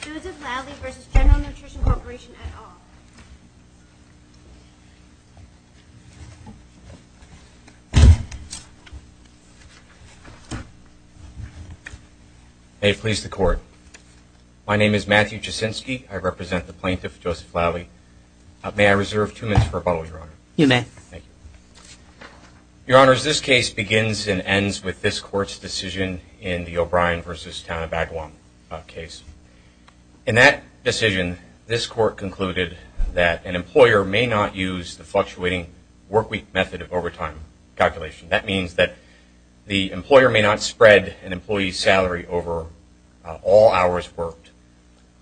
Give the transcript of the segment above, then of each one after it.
Joseph Lalli v. General Nutrition Corporation et al. May it please the Court. My name is Matthew Jaczynski. I represent the plaintiff, Joseph Lalli. May I reserve two minutes for rebuttal, Your Honor? You may. Thank you. Your Honors, this case begins and ends with this Court's decision in the O'Brien v. Taunabaguam case. In that decision, this Court concluded that an employer may not use the fluctuating workweek method of overtime calculation. That means that the employer may not spread an employee's salary over all hours worked,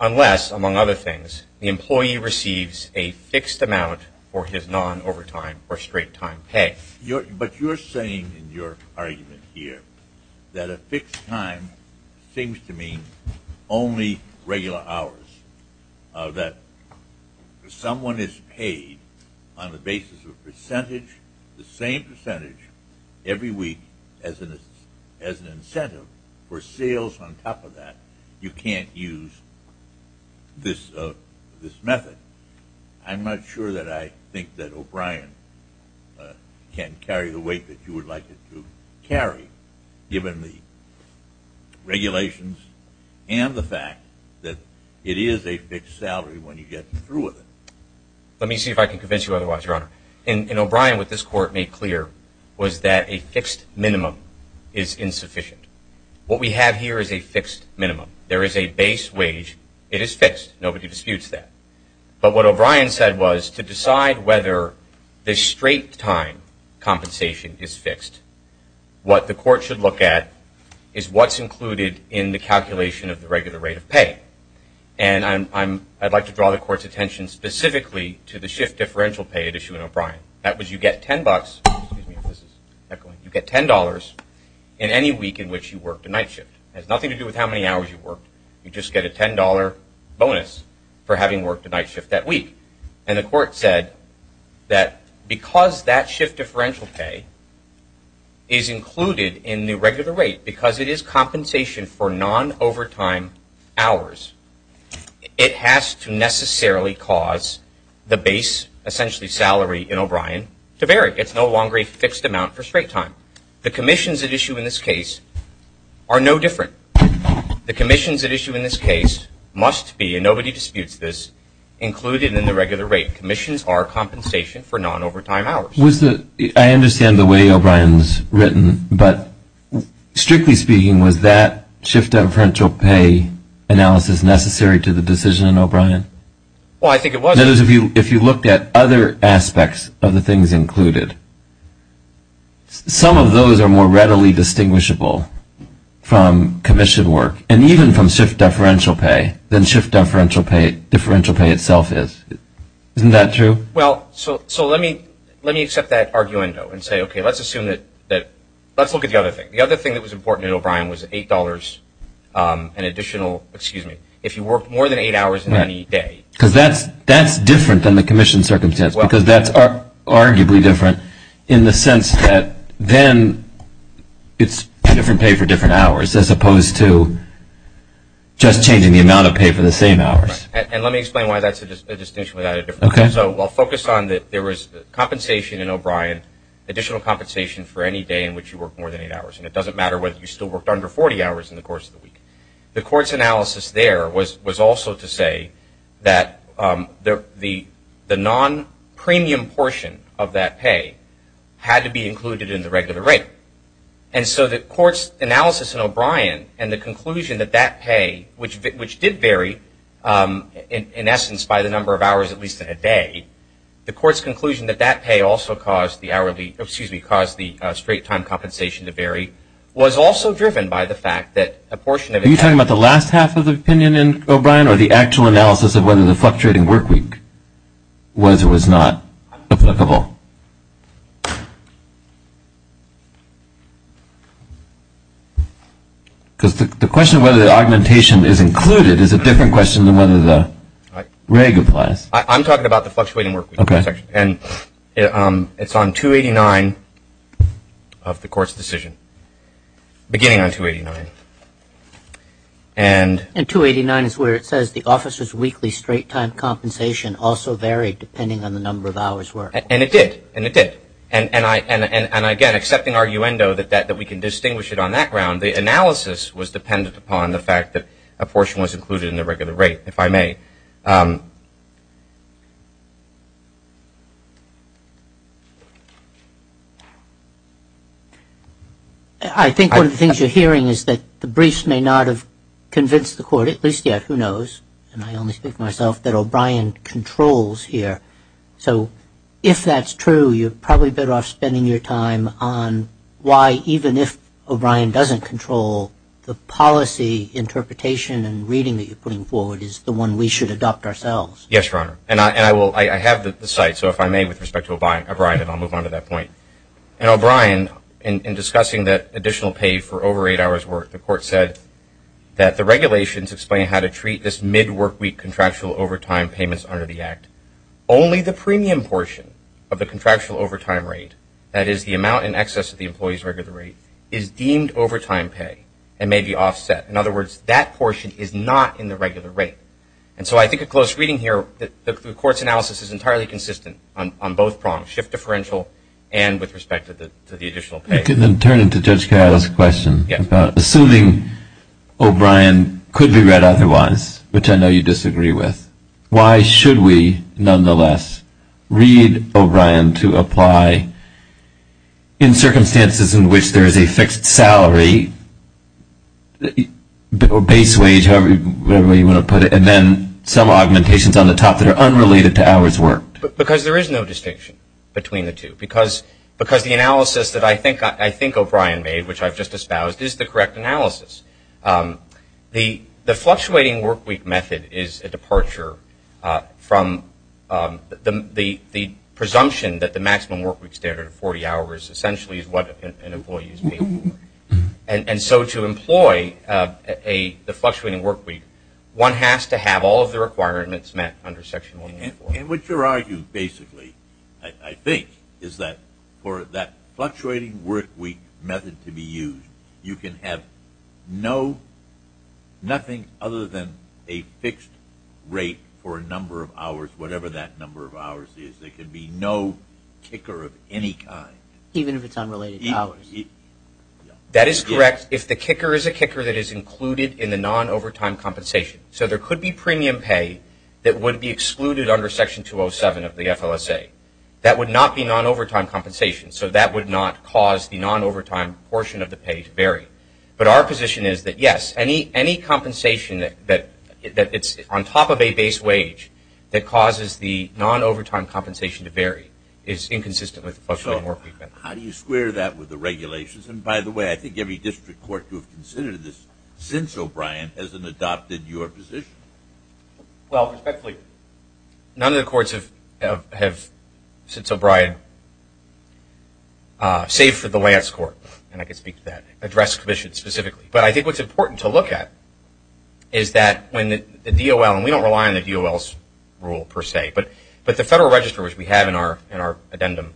unless, among other things, the employee receives a fixed amount for his non-overtime or straight-time pay. But you're saying in your argument here that a fixed time seems to mean only regular hours, that if someone is paid on the basis of a percentage, the same percentage, every week, as an incentive for sales on top of that, you can't use this method. I'm not sure that I think that O'Brien can carry the weight that you would like it to carry, given the regulations and the fact that it is a fixed salary when you get through with it. Let me see if I can convince you otherwise, Your Honor. In O'Brien, what this Court made clear was that a fixed minimum is insufficient. What we have here is a fixed minimum. There is a base wage. It is fixed. Nobody disputes that. But what O'Brien said was to decide whether the straight-time compensation is fixed, what the Court should look at is what's included in the calculation of the regular rate of pay. And I'd like to draw the Court's attention specifically to the shift differential pay at issue in O'Brien. That was you get $10 in any week in which you worked a night shift. It has nothing to do with how many hours you worked. You just get a $10 bonus for having worked a night shift that week. And the Court said that because that shift differential pay is included in the regular rate, because it is compensation for non-overtime hours, it has to necessarily cause the base, essentially salary in O'Brien, to vary. It's no longer a fixed amount for straight time. The commissions at issue in this case are no different. The commissions at issue in this case must be, and nobody disputes this, included in the regular rate. Commissions are compensation for non-overtime hours. I understand the way O'Brien's written, but strictly speaking, was that shift differential pay analysis necessary to the decision in O'Brien? Well, I think it was. In other words, if you looked at other aspects of the things included, some of those are more readily distinguishable from commission work, and even from shift differential pay, than shift differential pay itself is. Isn't that true? Well, so let me accept that arguendo and say, okay, let's assume that, let's look at the other thing. The other thing that was important in O'Brien was $8, an additional, excuse me, if you worked more than eight hours in any day. Because that's different than the commission circumstance, because that's arguably different in the sense that then it's different pay for different hours, as opposed to just changing the amount of pay for the same hours. And let me explain why that's a distinction without a difference. Okay. So I'll focus on that there was compensation in O'Brien, additional compensation for any day in which you worked more than eight hours. And it doesn't matter whether you still worked under 40 hours in the course of the week. The court's analysis there was also to say that the non-premium portion of that pay had to be included in the regular rate. And so the court's analysis in O'Brien and the conclusion that that pay, which did vary in essence by the number of hours at least in a day, the court's conclusion that that pay also caused the hourly, excuse me, caused the straight time compensation to vary was also driven by the fact that a portion of it. Are you talking about the last half of the opinion in O'Brien or the actual analysis of whether the fluctuating work week was or was not applicable? Because the question of whether the augmentation is included is a different question than whether the reg applies. I'm talking about the fluctuating work week. Okay. And it's on 289 of the court's decision, beginning on 289. And. And 289 is where it says the officer's weekly straight time compensation also varied depending on the number of hours worked. And it did. And it did. And, again, accepting arguendo that we can distinguish it on that ground, the analysis was dependent upon the fact that a portion was included in the regular rate, if I may. I think one of the things you're hearing is that the briefs may not have convinced the court, at least yet, who knows, and I only speak for myself, that O'Brien controls here. So if that's true, you're probably better off spending your time on why, even if O'Brien doesn't control the policy interpretation and reading that you're putting forward, is the one we should adopt ourselves. Yes, Your Honor. And I will. I have the site, so if I may, with respect to O'Brien, and I'll move on to that point. And O'Brien, in discussing that additional pay for over eight hours' work, the court said that the regulations explain how to treat this mid-workweek contractual overtime payments under the act. Only the premium portion of the contractual overtime rate, that is the amount in excess of the employee's regular rate, is deemed overtime pay and may be offset. In other words, that portion is not in the regular rate. And so I think a close reading here, the court's analysis is entirely consistent on both prongs, shift differential and with respect to the additional pay. You can then turn it to Judge Kyle's question. Yes. Assuming O'Brien could be read otherwise, which I know you disagree with, why should we nonetheless read O'Brien to apply in circumstances in which there is a fixed salary, base wage, however you want to put it, and then some augmentations on the top that are unrelated to hours worked? Because there is no distinction between the two. Because the analysis that I think O'Brien made, which I've just espoused, is the correct analysis. The fluctuating workweek method is a departure from the presumption that the maximum workweek standard of 40 hours essentially is what an employee is paid for. And so to employ the fluctuating workweek, one has to have all of the requirements met under Section 144. And what you're arguing, basically, I think, is that for that fluctuating workweek method to be used, you can have nothing other than a fixed rate for a number of hours, whatever that number of hours is. There can be no kicker of any kind. Even if it's unrelated to hours. That is correct. If the kicker is a kicker that is included in the non-overtime compensation. So there could be premium pay that would be excluded under Section 207 of the FLSA. That would not be non-overtime compensation. So that would not cause the non-overtime portion of the pay to vary. But our position is that, yes, any compensation that's on top of a base wage that causes the non-overtime compensation to vary is inconsistent with the fluctuating workweek method. How do you square that with the regulations? And, by the way, I think every district court would consider this since O'Brien hasn't adopted your position. Well, respectfully, none of the courts have since O'Brien, save for the Lance Court, and I can speak to that, addressed commissions specifically. But I think what's important to look at is that when the DOL, and we don't rely on the DOL's rule, per se, but the Federal Register, which we have in our addendum,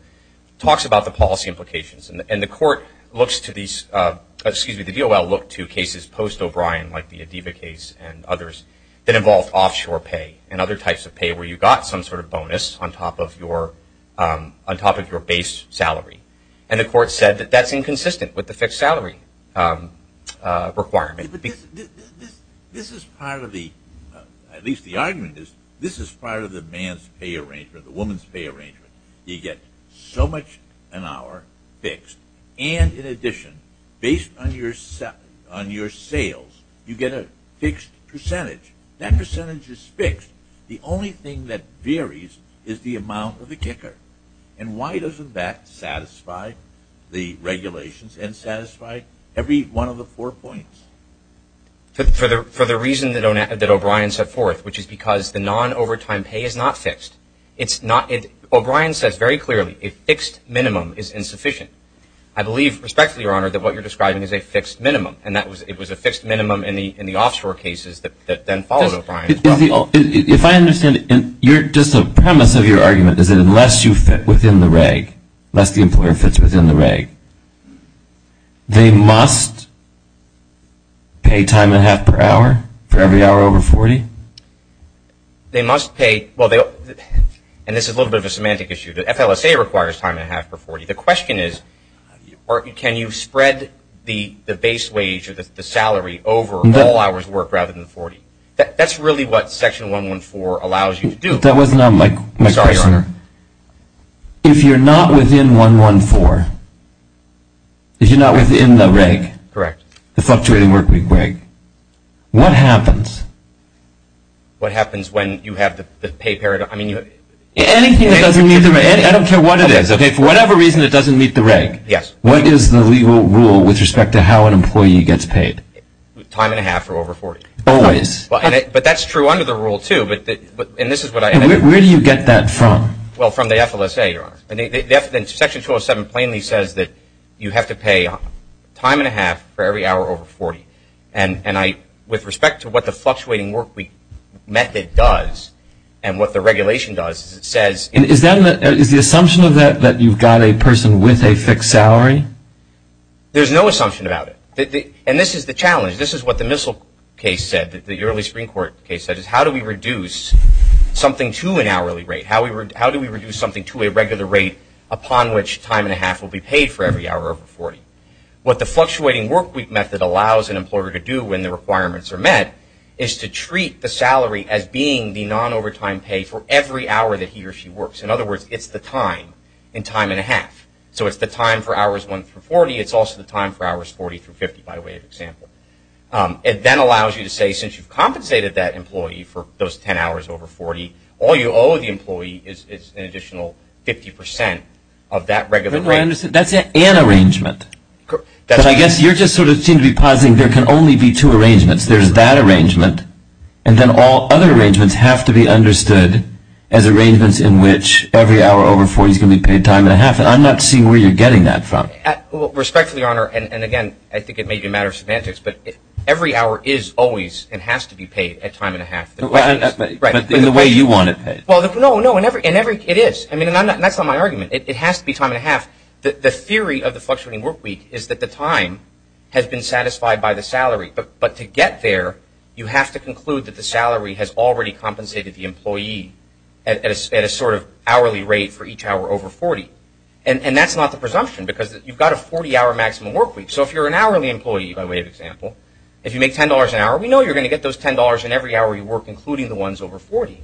talks about the policy implications. And the court looks to these, excuse me, the DOL looked to cases post-O'Brien, like the Adiva case and others, that involved offshore pay and other types of pay where you got some sort of bonus on top of your base salary. And the court said that that's inconsistent with the fixed salary requirement. This is part of the, at least the argument is, this is part of the man's pay arrangement, the woman's pay arrangement. You get so much an hour fixed. And, in addition, based on your sales, you get a fixed percentage. That percentage is fixed. The only thing that varies is the amount of the kicker. And why doesn't that satisfy the regulations and satisfy every one of the four points? For the reason that O'Brien set forth, which is because the non-overtime pay is not fixed. O'Brien says very clearly a fixed minimum is insufficient. I believe, respectfully, Your Honor, that what you're describing is a fixed minimum. And it was a fixed minimum in the offshore cases that then followed O'Brien. If I understand it, just the premise of your argument is that unless you fit within the reg, unless the employer fits within the reg, they must pay time and a half per hour for every hour over 40? They must pay. Well, and this is a little bit of a semantic issue. The FLSA requires time and a half per 40. The question is can you spread the base wage or the salary over all hours worked rather than 40? That's really what Section 114 allows you to do. That was not my question. I'm sorry, Your Honor. If you're not within 114, if you're not within the reg, the fluctuating work week reg, what happens? What happens when you have the pay period? Anything that doesn't meet the reg. I don't care what it is. Okay, for whatever reason it doesn't meet the reg. Yes. What is the legal rule with respect to how an employee gets paid? Time and a half for over 40. Always. But that's true under the rule, too. And this is what I – Where do you get that from? Well, from the FLSA, Your Honor. Section 207 plainly says that you have to pay time and a half for every hour over 40. And with respect to what the fluctuating work week method does and what the regulation does, it says – Is the assumption of that that you've got a person with a fixed salary? There's no assumption about it. And this is the challenge. This is what the Missile case said, the early Supreme Court case said, is how do we reduce something to an hourly rate? How do we reduce something to a regular rate upon which time and a half will be paid for every hour over 40? What the fluctuating work week method allows an employer to do when the requirements are met is to treat the salary as being the non-overtime pay for every hour that he or she works. In other words, it's the time in time and a half. So it's the time for hours 1 through 40. It's also the time for hours 40 through 50, by way of example. It then allows you to say since you've compensated that employee for those 10 hours over 40, all you owe the employee is an additional 50 percent of that regular rate. That's an arrangement. But I guess you just sort of seem to be positing there can only be two arrangements. There's that arrangement, and then all other arrangements have to be understood as arrangements in which every hour over 40 is going to be paid time and a half. And I'm not seeing where you're getting that from. Respectfully, Your Honor, and again, I think it may be a matter of semantics, but every hour is always and has to be paid at time and a half. Right. In the way you want it paid. Well, no, no, and every – it is. I mean, that's not my argument. It has to be time and a half. The theory of the fluctuating workweek is that the time has been satisfied by the salary, but to get there you have to conclude that the salary has already compensated the employee at a sort of hourly rate for each hour over 40. And that's not the presumption because you've got a 40-hour maximum workweek. So if you're an hourly employee, by way of example, if you make $10 an hour, we know you're going to get those $10 in every hour you work, including the ones over 40.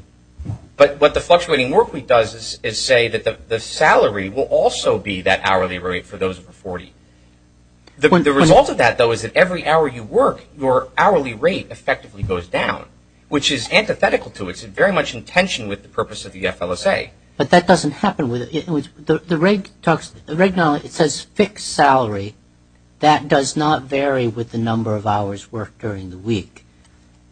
But what the fluctuating workweek does is say that the salary will also be that hourly rate for those over 40. The result of that, though, is that every hour you work, your hourly rate effectively goes down, which is antithetical to it. It's very much in tension with the purpose of the FLSA. But that doesn't happen with – the reg. It says fixed salary. That does not vary with the number of hours worked during the week.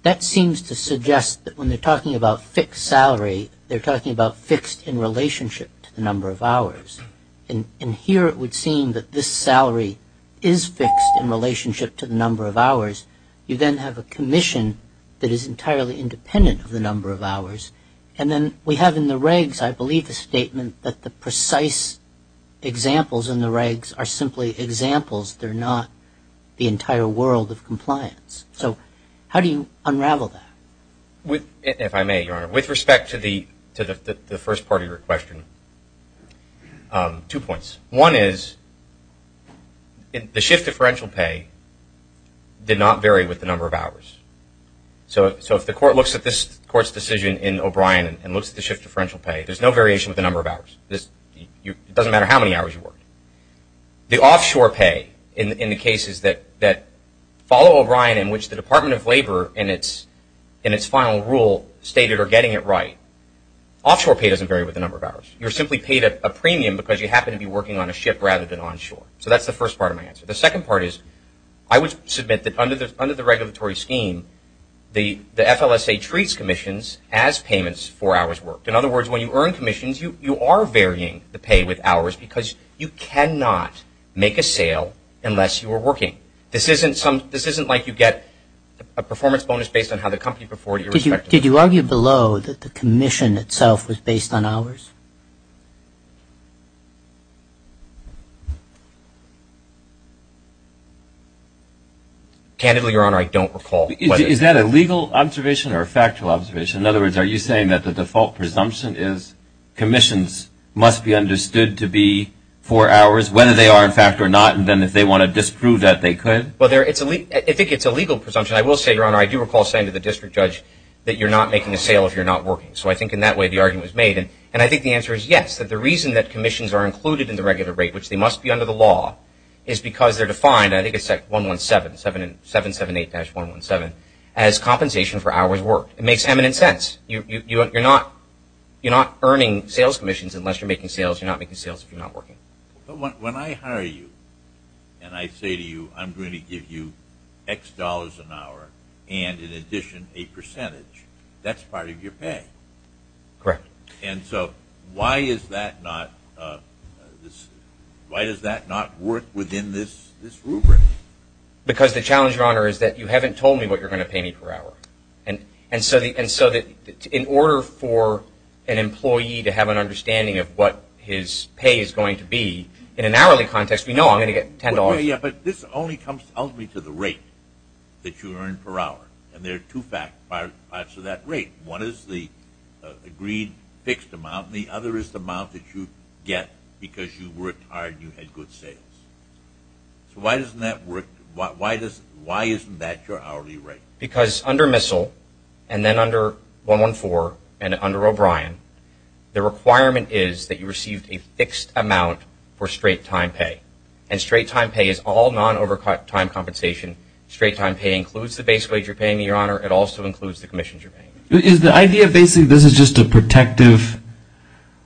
That seems to suggest that when they're talking about fixed salary, they're talking about fixed in relationship to the number of hours. And here it would seem that this salary is fixed in relationship to the number of hours. You then have a commission that is entirely independent of the number of hours. And then we have in the regs, I believe, the statement that the precise examples in the regs are simply examples. They're not the entire world of compliance. So how do you unravel that? If I may, Your Honor, with respect to the first part of your question, two points. One is the shift differential pay did not vary with the number of hours. So if the court looks at this court's decision in O'Brien and looks at the shift differential pay, there's no variation with the number of hours. It doesn't matter how many hours you worked. The offshore pay in the cases that follow O'Brien in which the Department of Labor in its final rule stated or getting it right, offshore pay doesn't vary with the number of hours. You're simply paid a premium because you happen to be working on a ship rather than onshore. So that's the first part of my answer. The second part is I would submit that under the regulatory scheme, the FLSA treats commissions as payments for hours worked. In other words, when you earn commissions, you are varying the pay with hours because you cannot make a sale unless you are working. This isn't like you get a performance bonus based on how the company performed. Did you argue below that the commission itself was based on hours? Candidly, Your Honor, I don't recall. Is that a legal observation or a factual observation? In other words, are you saying that the default presumption is commissions must be understood to be for hours, whether they are in fact or not, and then if they want to disprove that, they could? Well, I think it's a legal presumption. I will say, Your Honor, I do recall saying to the district judge that you're not making a sale if you're not working. So I think in that way the argument was made. And I think the answer is yes, that the reason that commissions are included in the regular rate, which they must be under the law, is because they're defined, I think it's 117, 778-117, as compensation for hours worked. It makes eminent sense. You're not earning sales commissions unless you're making sales. You're not making sales if you're not working. But when I hire you and I say to you I'm going to give you X dollars an hour and, in addition, a percentage, that's part of your pay. Correct. And so why does that not work within this rubric? Because the challenge, Your Honor, is that you haven't told me what you're going to pay me per hour. And so in order for an employee to have an understanding of what his pay is going to be, in an hourly context, we know I'm going to get $10. Yeah, but this only comes ultimately to the rate that you earn per hour. And there are two parts to that rate. One is the agreed fixed amount and the other is the amount that you get because you worked hard and you had good sales. So why doesn't that work? Why isn't that your hourly rate? Because under MISL and then under 114 and under O'Brien, the requirement is that you receive a fixed amount for straight time pay. And straight time pay is all non-overcut time compensation. Straight time pay includes the base wage you're paying me, Your Honor. It also includes the commissions you're paying me. Is the idea basically this is just a protective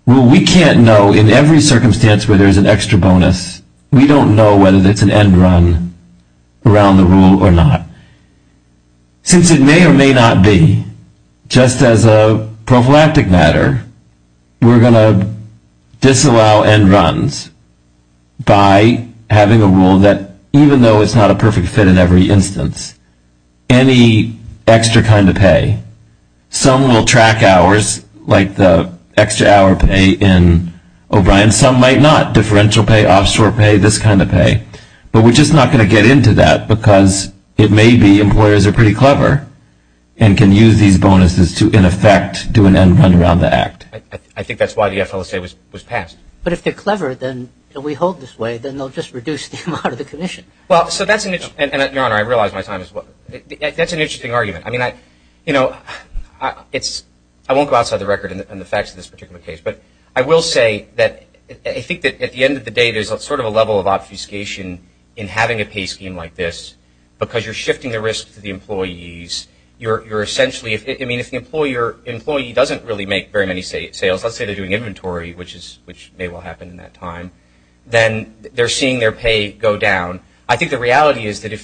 rule? We can't know in every circumstance where there's an extra bonus. We don't know whether it's an end run around the rule or not. Since it may or may not be, just as a prophylactic matter, we're going to disallow end runs by having a rule that even though it's not a perfect fit in every instance, any extra kind of pay, some will track hours like the extra hour pay in O'Brien. And some might not. Differential pay, offshore pay, this kind of pay. But we're just not going to get into that because it may be employers are pretty clever and can use these bonuses to, in effect, do an end run around the act. I think that's why the FLSA was passed. But if they're clever, then if we hold this way, then they'll just reduce the amount of the commission. Well, so that's an interesting – and, Your Honor, I realize my time is up. That's an interesting argument. I mean, you know, I won't go outside the record in the facts of this particular case. But I will say that I think that at the end of the day, there's sort of a level of obfuscation in having a pay scheme like this because you're shifting the risk to the employees. You're essentially – I mean, if the employee doesn't really make very many sales, let's say they're doing inventory, which may well happen in that time, then they're seeing their pay go down. I think the reality is that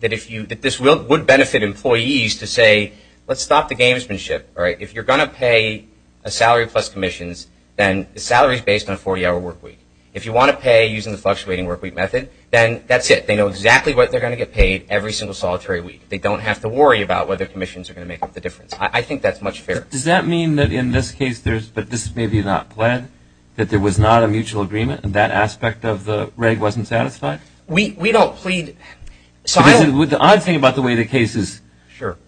this would benefit employees to say, let's stop the gamesmanship. If you're going to pay a salary plus commissions, then the salary is based on a 40-hour workweek. If you want to pay using the fluctuating workweek method, then that's it. They know exactly what they're going to get paid every single solitary week. They don't have to worry about whether commissions are going to make up the difference. I think that's much fairer. Does that mean that in this case there's – but this is maybe not pled, that there was not a mutual agreement and that aspect of the reg wasn't satisfied? We don't plead. The odd thing about the way the case is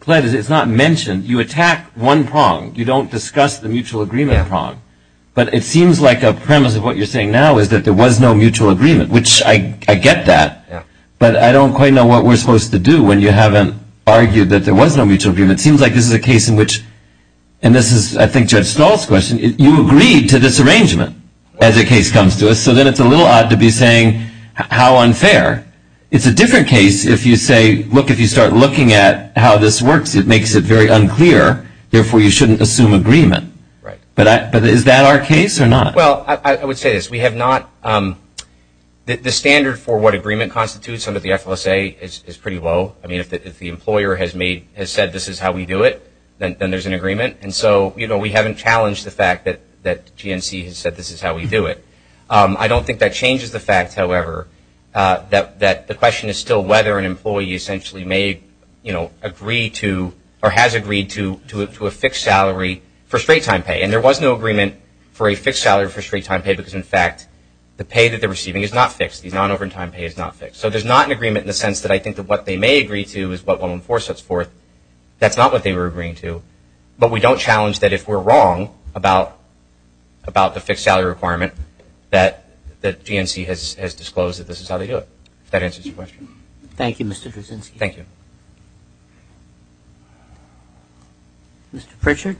pled is it's not mentioned. You attack one prong. You don't discuss the mutual agreement prong. But it seems like a premise of what you're saying now is that there was no mutual agreement, which I get that, but I don't quite know what we're supposed to do when you haven't argued that there was no mutual agreement. It seems like this is a case in which – and this is, I think, Judge Stahl's question. You agreed to this arrangement as a case comes to us, so then it's a little odd to be saying how unfair. It's a different case if you say, look, if you start looking at how this works, it makes it very unclear, therefore you shouldn't assume agreement. But is that our case or not? Well, I would say this. We have not – the standard for what agreement constitutes under the FLSA is pretty low. I mean, if the employer has said this is how we do it, then there's an agreement. And so we haven't challenged the fact that GNC has said this is how we do it. I don't think that changes the fact, however, that the question is still whether an employee essentially may agree to or has agreed to a fixed salary for straight-time pay. And there was no agreement for a fixed salary for straight-time pay because, in fact, the pay that they're receiving is not fixed. The non-overtime pay is not fixed. So there's not an agreement in the sense that I think that what they may agree to is what will enforce us forth. That's not what they were agreeing to. But we don't challenge that if we're wrong about the fixed salary requirement that GNC has disclosed that this is how they do it. If that answers your question. Thank you, Mr. Druszynski. Thank you. Mr. Pritchard.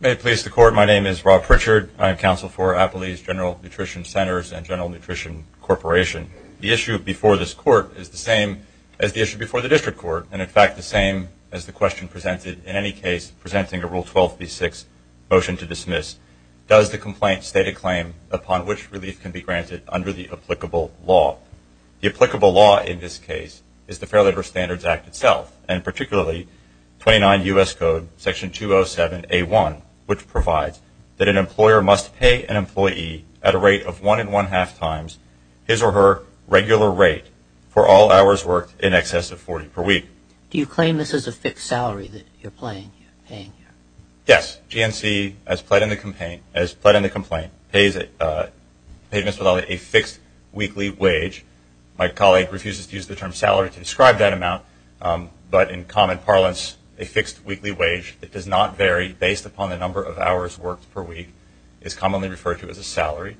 May it please the Court, my name is Rob Pritchard. I am counsel for Appley's General Nutrition Centers and General Nutrition Corporation. The issue before this Court is the same as the issue before the district court, and, in fact, the same as the question presented in any case presenting a Rule 12b-6 motion to dismiss. Does the complaint state a claim upon which relief can be granted under the applicable law? The applicable law in this case is the Fair Labor Standards Act itself, and particularly 29 U.S. Code Section 207A1, which provides that an employer must pay an employee at a rate of one and one-half times his or her regular rate for all hours worked in excess of 40 per week. Do you claim this is a fixed salary that you're paying here? Yes. GNC, as pled in the complaint, pays a fixed weekly wage. My colleague refuses to use the term salary to describe that amount, but in common parlance a fixed weekly wage that does not vary based upon the number of hours worked per week is commonly referred to as a salary.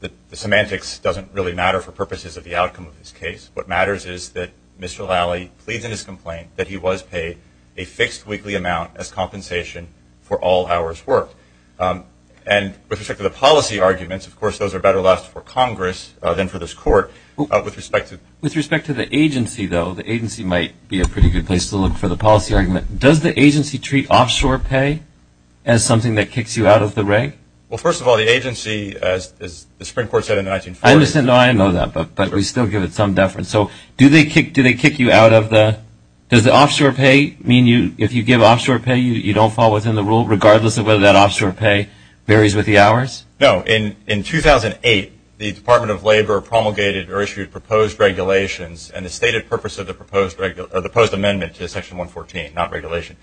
The semantics doesn't really matter for purposes of the outcome of this case. What matters is that Mr. Lally pleads in his complaint that he was paid a fixed weekly amount as compensation for all hours worked. And with respect to the policy arguments, of course, those are better left for Congress than for this Court. With respect to the agency, though, the agency might be a pretty good place to look for the policy argument. Does the agency treat offshore pay as something that kicks you out of the reg? Well, first of all, the agency, as the Supreme Court said in the 1940s. I understand. No, I know that, but we still give it some deference. So do they kick you out of the – does the offshore pay mean if you give offshore pay you don't fall within the rule, regardless of whether that offshore pay varies with the hours? No. In 2008, the Department of Labor promulgated or issued proposed regulations and the stated purpose of the proposed amendment to Section 114, not regulation,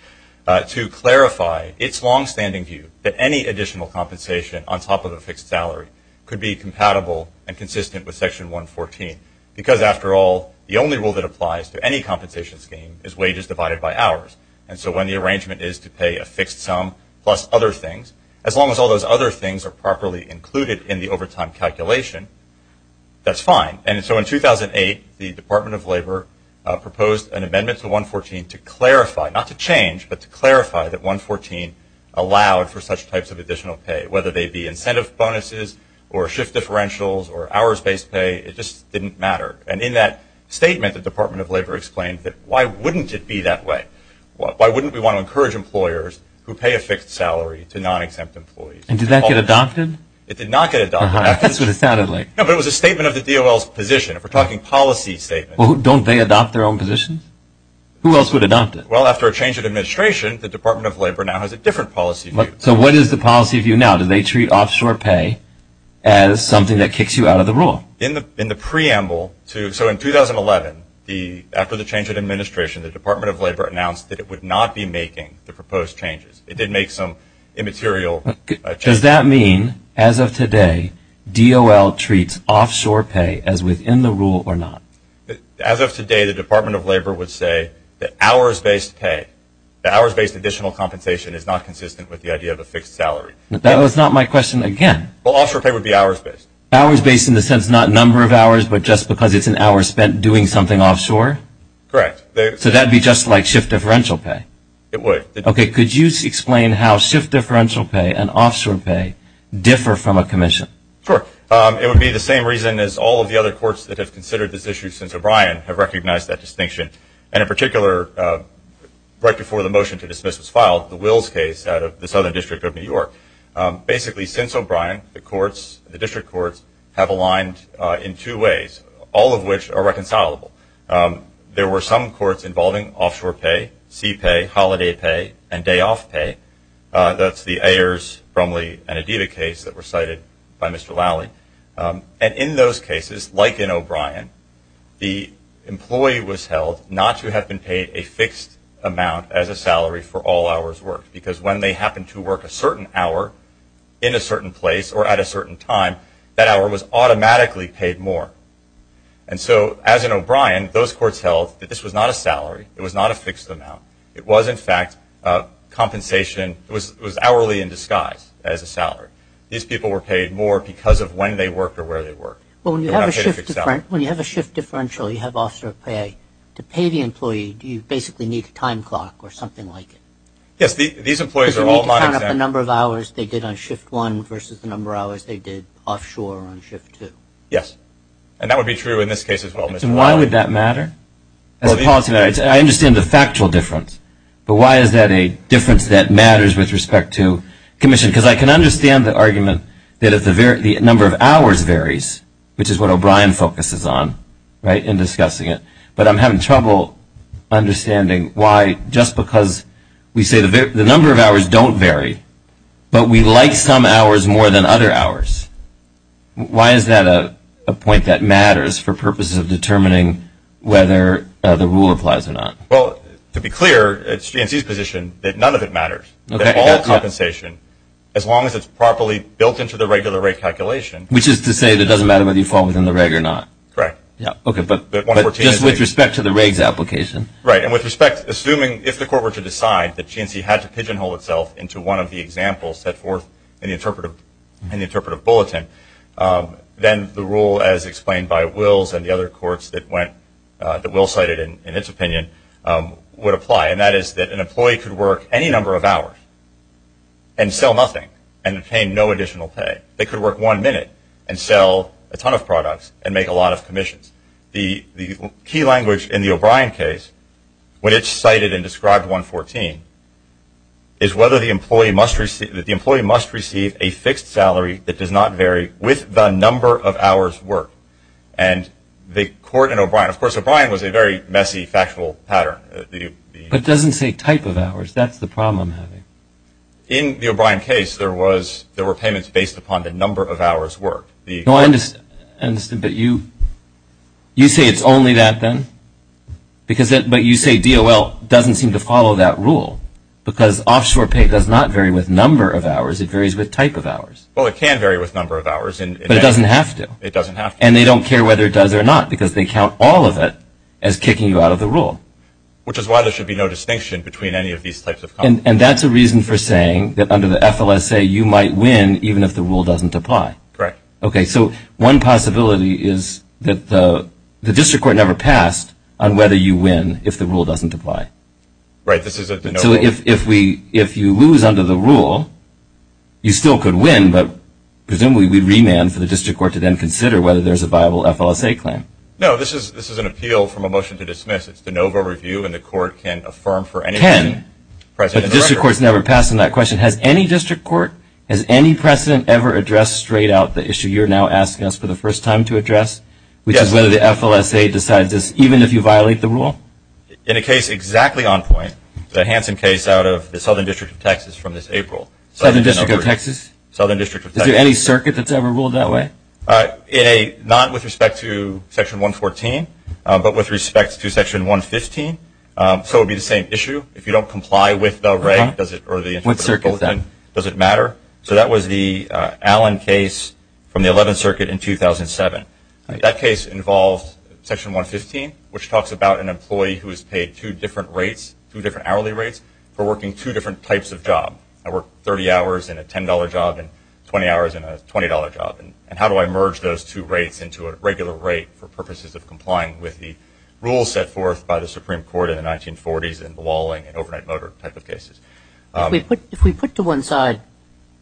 to clarify its longstanding view that any additional compensation on top of a fixed salary could be compatible and consistent with Section 114. Because, after all, the only rule that applies to any compensation scheme is wages divided by hours. And so when the arrangement is to pay a fixed sum plus other things, as long as all those other things are properly included in the overtime calculation, that's fine. And so in 2008, the Department of Labor proposed an amendment to 114 to clarify – not to change, but to clarify that 114 allowed for such types of additional pay, whether they be incentive bonuses or shift differentials or hours-based pay. It just didn't matter. And in that statement, the Department of Labor explained that why wouldn't it be that way? Why wouldn't we want to encourage employers who pay a fixed salary to non-exempt employees? And did that get adopted? It did not get adopted. That's what it sounded like. No, but it was a statement of the DOL's position. If we're talking policy statements. Well, don't they adopt their own positions? Who else would adopt it? Well, after a change of administration, the Department of Labor now has a different policy view. So what is the policy view now? Do they treat offshore pay as something that kicks you out of the rule? In the preamble to – so in 2011, after the change of administration, the Department of Labor announced that it would not be making the proposed changes. It did make some immaterial changes. Does that mean, as of today, DOL treats offshore pay as within the rule or not? As of today, the Department of Labor would say that hours-based pay, that hours-based additional compensation is not consistent with the idea of a fixed salary. That was not my question again. Well, offshore pay would be hours-based. Hours-based in the sense not number of hours, but just because it's an hour spent doing something offshore? Correct. So that would be just like shift differential pay? It would. Okay, could you explain how shift differential pay and offshore pay differ from a commission? Sure. It would be the same reason as all of the other courts that have considered this issue since O'Brien have recognized that distinction. And in particular, right before the motion to dismiss was filed, the Wills case out of the Southern District of New York. Basically, since O'Brien, the courts, the district courts, have aligned in two ways, all of which are reconcilable. There were some courts involving offshore pay, sea pay, holiday pay, and day-off pay. That's the Ayers, Brumley, and Adida case that were cited by Mr. Lally. And in those cases, like in O'Brien, the employee was held not to have been paid a fixed amount as a salary for all hours worked, because when they happened to work a certain hour in a certain place or at a certain time, that hour was automatically paid more. And so, as in O'Brien, those courts held that this was not a salary. It was not a fixed amount. It was, in fact, compensation. It was hourly in disguise as a salary. These people were paid more because of when they worked or where they worked. Well, when you have a shift differential, you have offshore pay. To pay the employee, do you basically need a time clock or something like it? Yes, these employees are all not exempt. Because you need to count up the number of hours they did on shift one versus the number of hours they did offshore on shift two. Yes. And that would be true in this case as well, Mr. Lally. So why would that matter? I understand the factual difference. But why is that a difference that matters with respect to commission? Because I can understand the argument that the number of hours varies, which is what O'Brien focuses on, right, in discussing it. But I'm having trouble understanding why just because we say the number of hours don't vary, but we like some hours more than other hours. Why is that a point that matters for purposes of determining whether the rule applies or not? Well, to be clear, it's GNC's position that none of it matters, that all compensation, as long as it's properly built into the regular rate calculation. Which is to say that it doesn't matter whether you fall within the reg or not. Correct. Okay, but just with respect to the reg's application. Right, and with respect, assuming if the court were to decide that GNC had to pigeonhole itself into one of the examples set forth in the interpretive bulletin, then the rule as explained by Wills and the other courts that Wills cited in its opinion would apply. And that is that an employee could work any number of hours and sell nothing and obtain no additional pay. They could work one minute and sell a ton of products and make a lot of commissions. The key language in the O'Brien case, which cited and described 114, is whether the employee must receive a fixed salary that does not vary with the number of hours worked. And the court in O'Brien, of course O'Brien was a very messy factual pattern. But it doesn't say type of hours, that's the problem. In the O'Brien case there were payments based upon the number of hours worked. No, I understand, but you say it's only that then? But you say DOL doesn't seem to follow that rule, because offshore pay does not vary with number of hours, it varies with type of hours. Well, it can vary with number of hours. But it doesn't have to. It doesn't have to. And they don't care whether it does or not, because they count all of it as kicking you out of the rule. Which is why there should be no distinction between any of these types of companies. And that's a reason for saying that under the FLSA you might win even if the rule doesn't apply. Correct. Okay, so one possibility is that the district court never passed on whether you win if the rule doesn't apply. Right, this is a de novo. So if you lose under the rule, you still could win, but presumably we'd remand for the district court to then consider whether there's a viable FLSA claim. No, this is an appeal from a motion to dismiss. It's de novo review and the court can affirm for any reason. Can. But the district court has never passed on that question. Has any district court, has any precedent ever addressed straight out the issue you're now asking us for the first time to address? Yes. Which is whether the FLSA decides this, even if you violate the rule? In a case exactly on point, the Hansen case out of the Southern District of Texas from this April. Southern District of Texas? Southern District of Texas. Is there any circuit that's ever ruled that way? Not with respect to Section 114, but with respect to Section 115. So it would be the same issue. If you don't comply with the rate, does it, or the interpretation. What circuit is that? Does it matter? So that was the Allen case from the 11th Circuit in 2007. That case involved Section 115, which talks about an employee who is paid two different rates, two different hourly rates, for working two different types of job. I work 30 hours in a $10 job and 20 hours in a $20 job. And how do I merge those two rates into a regular rate for purposes of complying with the rules set forth by the Supreme Court in the 1940s in the walling and overnight motor type of cases? If we put to one side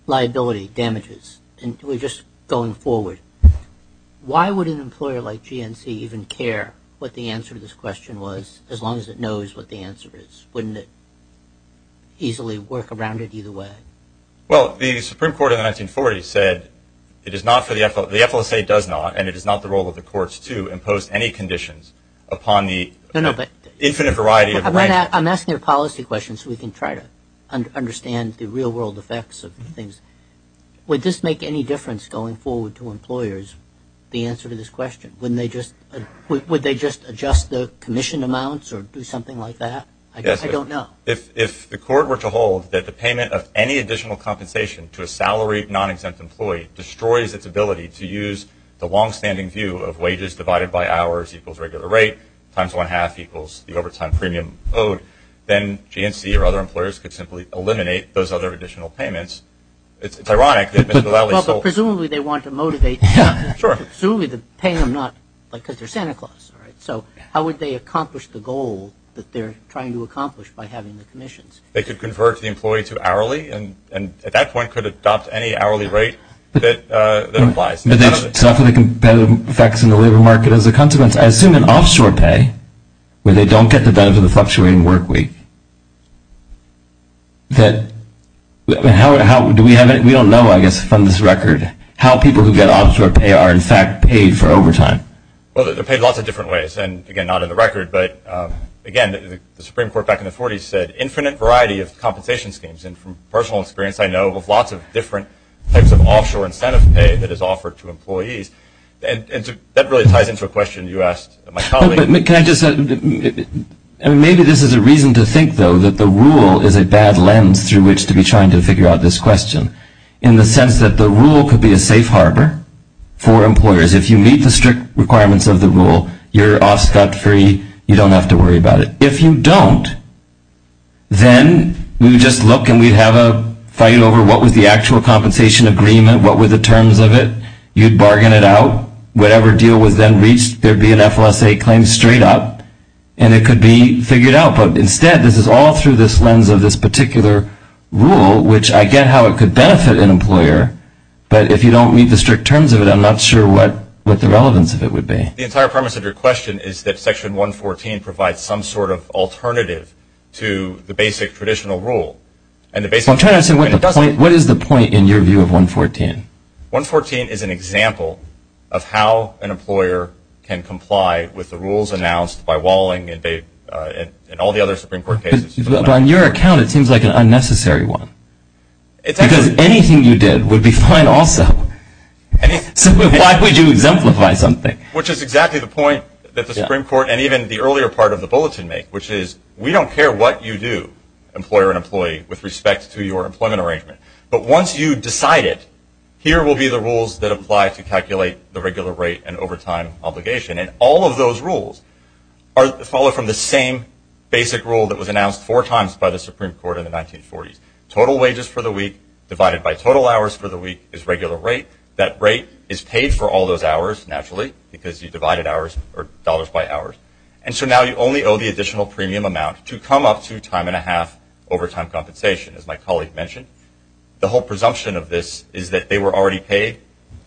liability, damages, and we're just going forward, why would an employer like GNC even care what the answer to this question was, as long as it knows what the answer is? Wouldn't it easily work around it either way? Well, the Supreme Court in the 1940s said it is not for the FLSA. The FLSA does not, and it is not the role of the courts to impose any conditions upon the infinite variety of rank. I'm asking a policy question so we can try to understand the real-world effects of things. Would this make any difference going forward to employers, the answer to this question? Wouldn't they just adjust the commission amounts or do something like that? Yes. I don't know. If the court were to hold that the payment of any additional compensation to a salaried, non-exempt employee destroys its ability to use the longstanding view of wages divided by hours equals regular rate, times one-half equals the overtime premium owed, then GNC or other employers could simply eliminate those other additional payments. It's ironic that Mr. Lally sold – Well, but presumably they want to motivate – Sure. Presumably they're paying them not – because they're Santa Claus, right? So how would they accomplish the goal that they're trying to accomplish by having the commissions? They could convert the employee to hourly, and at that point could adopt any hourly rate that applies. But they suffer the competitive effects in the labor market as a consequence, I assume in offshore pay where they don't get the benefit of the fluctuating work week. How do we have it? We don't know, I guess, from this record, how people who get offshore pay are, in fact, paid for overtime. Well, they're paid lots of different ways, and, again, not in the record. But, again, the Supreme Court back in the 40s said infinite variety of compensation schemes. And from personal experience, I know of lots of different types of offshore incentive pay that is offered to employees. And that really ties into a question you asked my colleague. Can I just – I mean, maybe this is a reason to think, though, that the rule is a bad lens through which to be trying to figure out this question, in the sense that the rule could be a safe harbor for employers. If you meet the strict requirements of the rule, you're off-scot-free, you don't have to worry about it. If you don't, then we would just look and we'd have a fight over what was the actual compensation agreement, what were the terms of it. You'd bargain it out. Whatever deal was then reached, there'd be an FLSA claim straight up, and it could be figured out. But, instead, this is all through this lens of this particular rule, which I get how it could benefit an employer. But if you don't meet the strict terms of it, I'm not sure what the relevance of it would be. The entire premise of your question is that Section 114 provides some sort of alternative to the basic traditional rule. I'm trying to understand, what is the point in your view of 114? 114 is an example of how an employer can comply with the rules announced by Walling and all the other Supreme Court cases. On your account, it seems like an unnecessary one. Because anything you did would be fine also. Why would you exemplify something? Which is exactly the point that the Supreme Court and even the earlier part of the bulletin make, which is we don't care what you do, employer and employee, with respect to your employment arrangement. But once you decide it, here will be the rules that apply to calculate the regular rate and overtime obligation. All of those rules follow from the same basic rule that was announced four times by the Supreme Court in the 1940s. Total wages for the week divided by total hours for the week is regular rate. That rate is paid for all those hours, naturally, because you divided dollars by hours. And so now you only owe the additional premium amount to come up to time and a half overtime compensation, as my colleague mentioned. The whole presumption of this is that they were already paid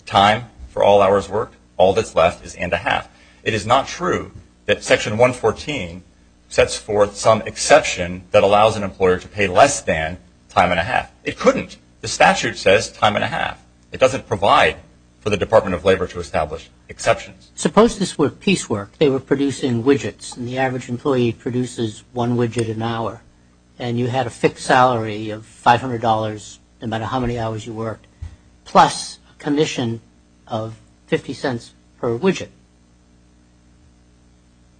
time for all hours worked. All that's left is and a half. It is not true that Section 114 sets forth some exception that allows an employer to pay less than time and a half. It couldn't. The statute says time and a half. It doesn't provide for the Department of Labor to establish exceptions. Suppose this were piecework. They were producing widgets, and the average employee produces one widget an hour. And you had a fixed salary of $500 no matter how many hours you worked, plus a commission of 50 cents per widget.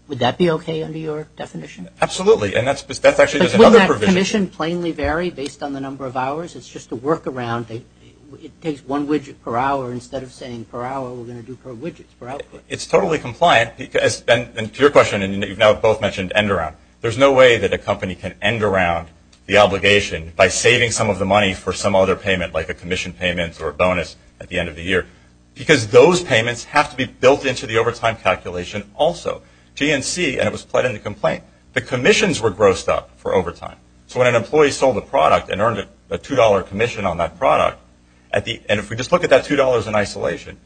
Would that be okay under your definition? Absolutely. And that's actually just another provision. But wouldn't that commission plainly vary based on the number of hours? It's just a workaround. It takes one widget per hour instead of saying per hour we're going to do per widgets, per output. It's totally compliant. To your question, and you've now both mentioned end around, there's no way that a company can end around the obligation by saving some of the money for some other payment, like a commission payment or a bonus at the end of the year, because those payments have to be built into the overtime calculation also. GNC, and it was put in the complaint, the commissions were grossed up for overtime. So when an employee sold a product and earned a $2 commission on that product, and if we just look at that $2 in isolation,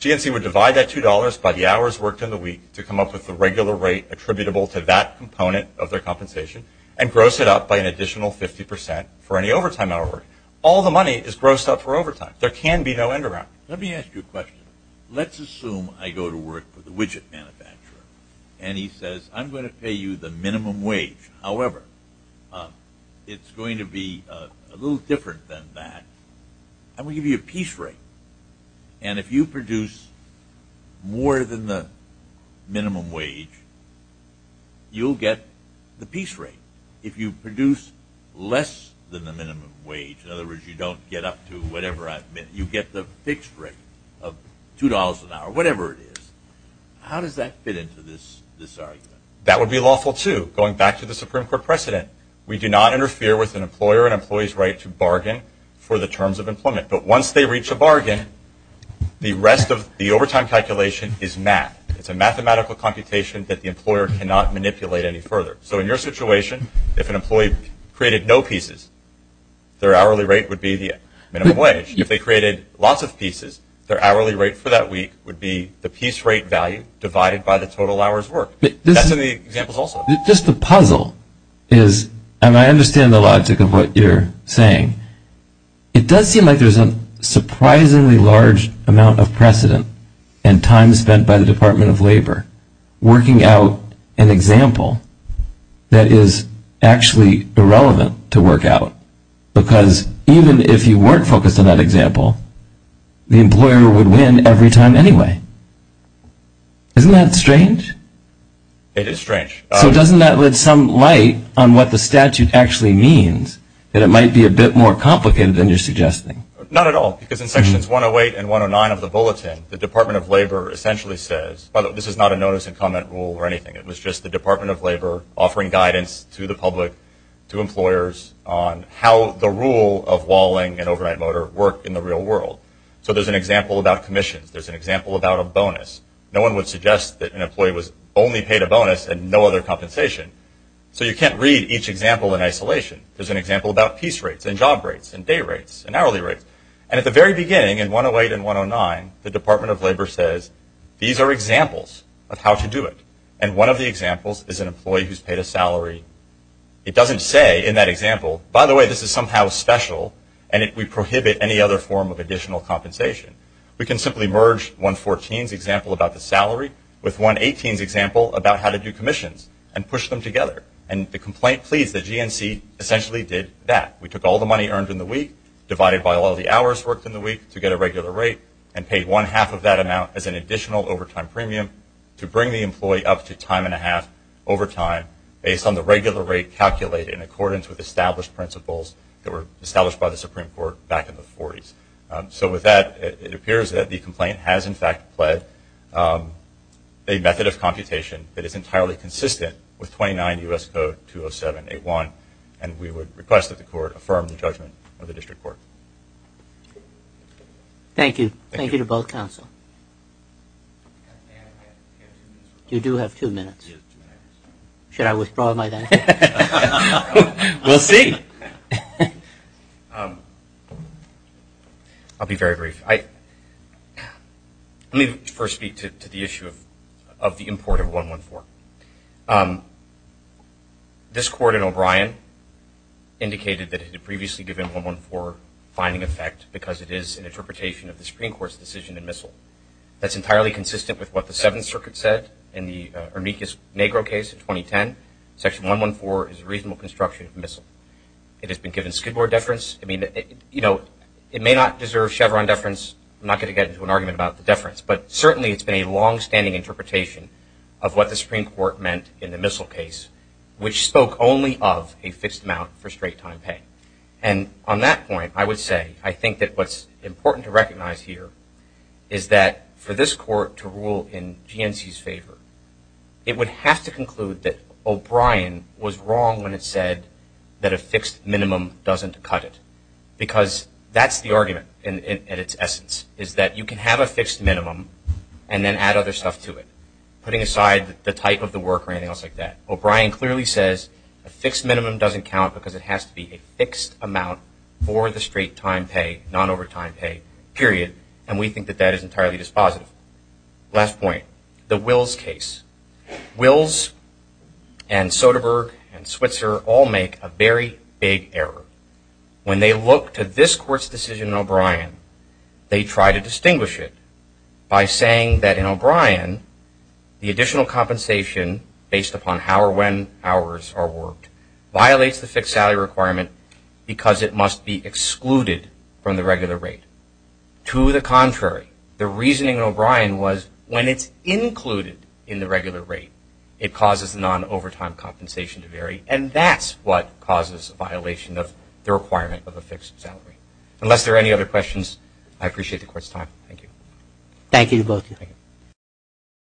GNC would divide that $2 by the hours worked in the week to come up with the regular rate attributable to that component of their compensation and gross it up by an additional 50% for any overtime hour. All the money is grossed up for overtime. There can be no end around. Let me ask you a question. Let's assume I go to work for the widget manufacturer, and he says I'm going to pay you the minimum wage. However, it's going to be a little different than that. I'm going to give you a piece rate. And if you produce more than the minimum wage, you'll get the piece rate. If you produce less than the minimum wage, in other words, you don't get up to whatever I've been, you get the fixed rate of $2 an hour, whatever it is. How does that fit into this argument? That would be lawful, too, going back to the Supreme Court precedent. We do not interfere with an employer and employee's right to bargain for the terms of employment. But once they reach a bargain, the rest of the overtime calculation is math. It's a mathematical computation that the employer cannot manipulate any further. So in your situation, if an employee created no pieces, their hourly rate would be the minimum wage. If they created lots of pieces, their hourly rate for that week would be the piece rate value divided by the total hours worked. That's in the examples also. Just the puzzle is, and I understand the logic of what you're saying, it does seem like there's a surprisingly large amount of precedent and time spent by the Department of Labor working out an example that is actually irrelevant to work out. Because even if you weren't focused on that example, the employer would win every time anyway. Isn't that strange? It is strange. So doesn't that let some light on what the statute actually means, that it might be a bit more complicated than you're suggesting? Not at all, because in sections 108 and 109 of the bulletin, the Department of Labor essentially says, although this is not a notice and comment rule or anything, how the rule of walling and overnight motor work in the real world. So there's an example about commissions. There's an example about a bonus. No one would suggest that an employee was only paid a bonus and no other compensation. So you can't read each example in isolation. There's an example about piece rates and job rates and day rates and hourly rates. And at the very beginning, in 108 and 109, the Department of Labor says, these are examples of how to do it. And one of the examples is an employee who's paid a salary. It doesn't say in that example, by the way, this is somehow special, and we prohibit any other form of additional compensation. We can simply merge 114's example about the salary with 118's example about how to do commissions and push them together. And the complaint pleads that GNC essentially did that. We took all the money earned in the week, divided by all the hours worked in the week to get a regular rate, and paid one-half of that amount as an additional overtime premium to bring the employee up to time-and-a-half overtime based on the regular rate calculated in accordance with established principles that were established by the Supreme Court back in the 40s. So with that, it appears that the complaint has, in fact, pled a method of computation that is entirely consistent with 29 U.S. Code 207-81, and we would request that the Court affirm the judgment of the District Court. Thank you. Thank you to both counsel. You do have two minutes. Should I withdraw my then? We'll see. I'll be very brief. Let me first speak to the issue of the import of 114. This Court in O'Brien indicated that it had previously given 114 finding effect because it is an interpretation of the Supreme Court's decision in Missle. That's entirely consistent with what the Seventh Circuit said in the Ernickus-Negro case in 2010. Section 114 is a reasonable construction of Missle. It has been given Skidmore deference. It may not deserve Chevron deference. I'm not going to get into an argument about the deference, but certainly it's been a longstanding interpretation of what the Supreme Court meant in the Missle case, which spoke only of a fixed amount for straight-time pay. And on that point, I would say I think that what's important to recognize here is that for this Court to rule in GNC's favor, it would have to conclude that O'Brien was wrong when it said that a fixed minimum doesn't cut it because that's the argument in its essence, is that you can have a fixed minimum and then add other stuff to it, putting aside the type of the work or anything else like that. O'Brien clearly says a fixed minimum doesn't count because it has to be a fixed amount for the straight-time pay, not overtime pay, period. And we think that that is entirely dispositive. Last point, the Wills case. Wills and Soderberg and Switzer all make a very big error. When they look to this Court's decision in O'Brien, they try to distinguish it by saying that in O'Brien, the additional compensation based upon how or when hours are worked violates the fixed salary requirement because it must be excluded from the regular rate. To the contrary, the reasoning in O'Brien was when it's included in the regular rate, and that's what causes a violation of the requirement of a fixed salary. Unless there are any other questions, I appreciate the Court's time. Thank you. Thank you to both of you.